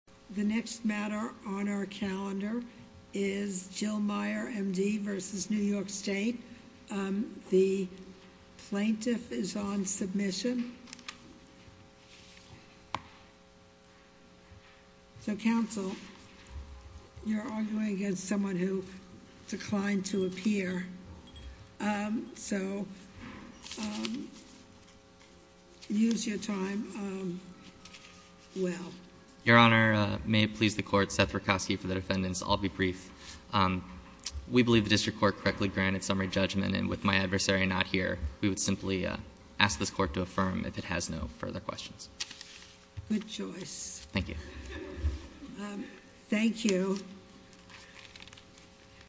The next matter on our calendar is Jill Meyer, M.D. v. New York State. The plaintiff is on submission. So, counsel, you're arguing against someone who declined to appear, so use your time well. Your Honor, may it please the court, Seth Rakosky for the defendants. I'll be brief. We believe the district court correctly granted summary judgment, and with my adversary not here, we would simply ask this court to affirm if it has no further questions. Good choice. Thank you. Thank you.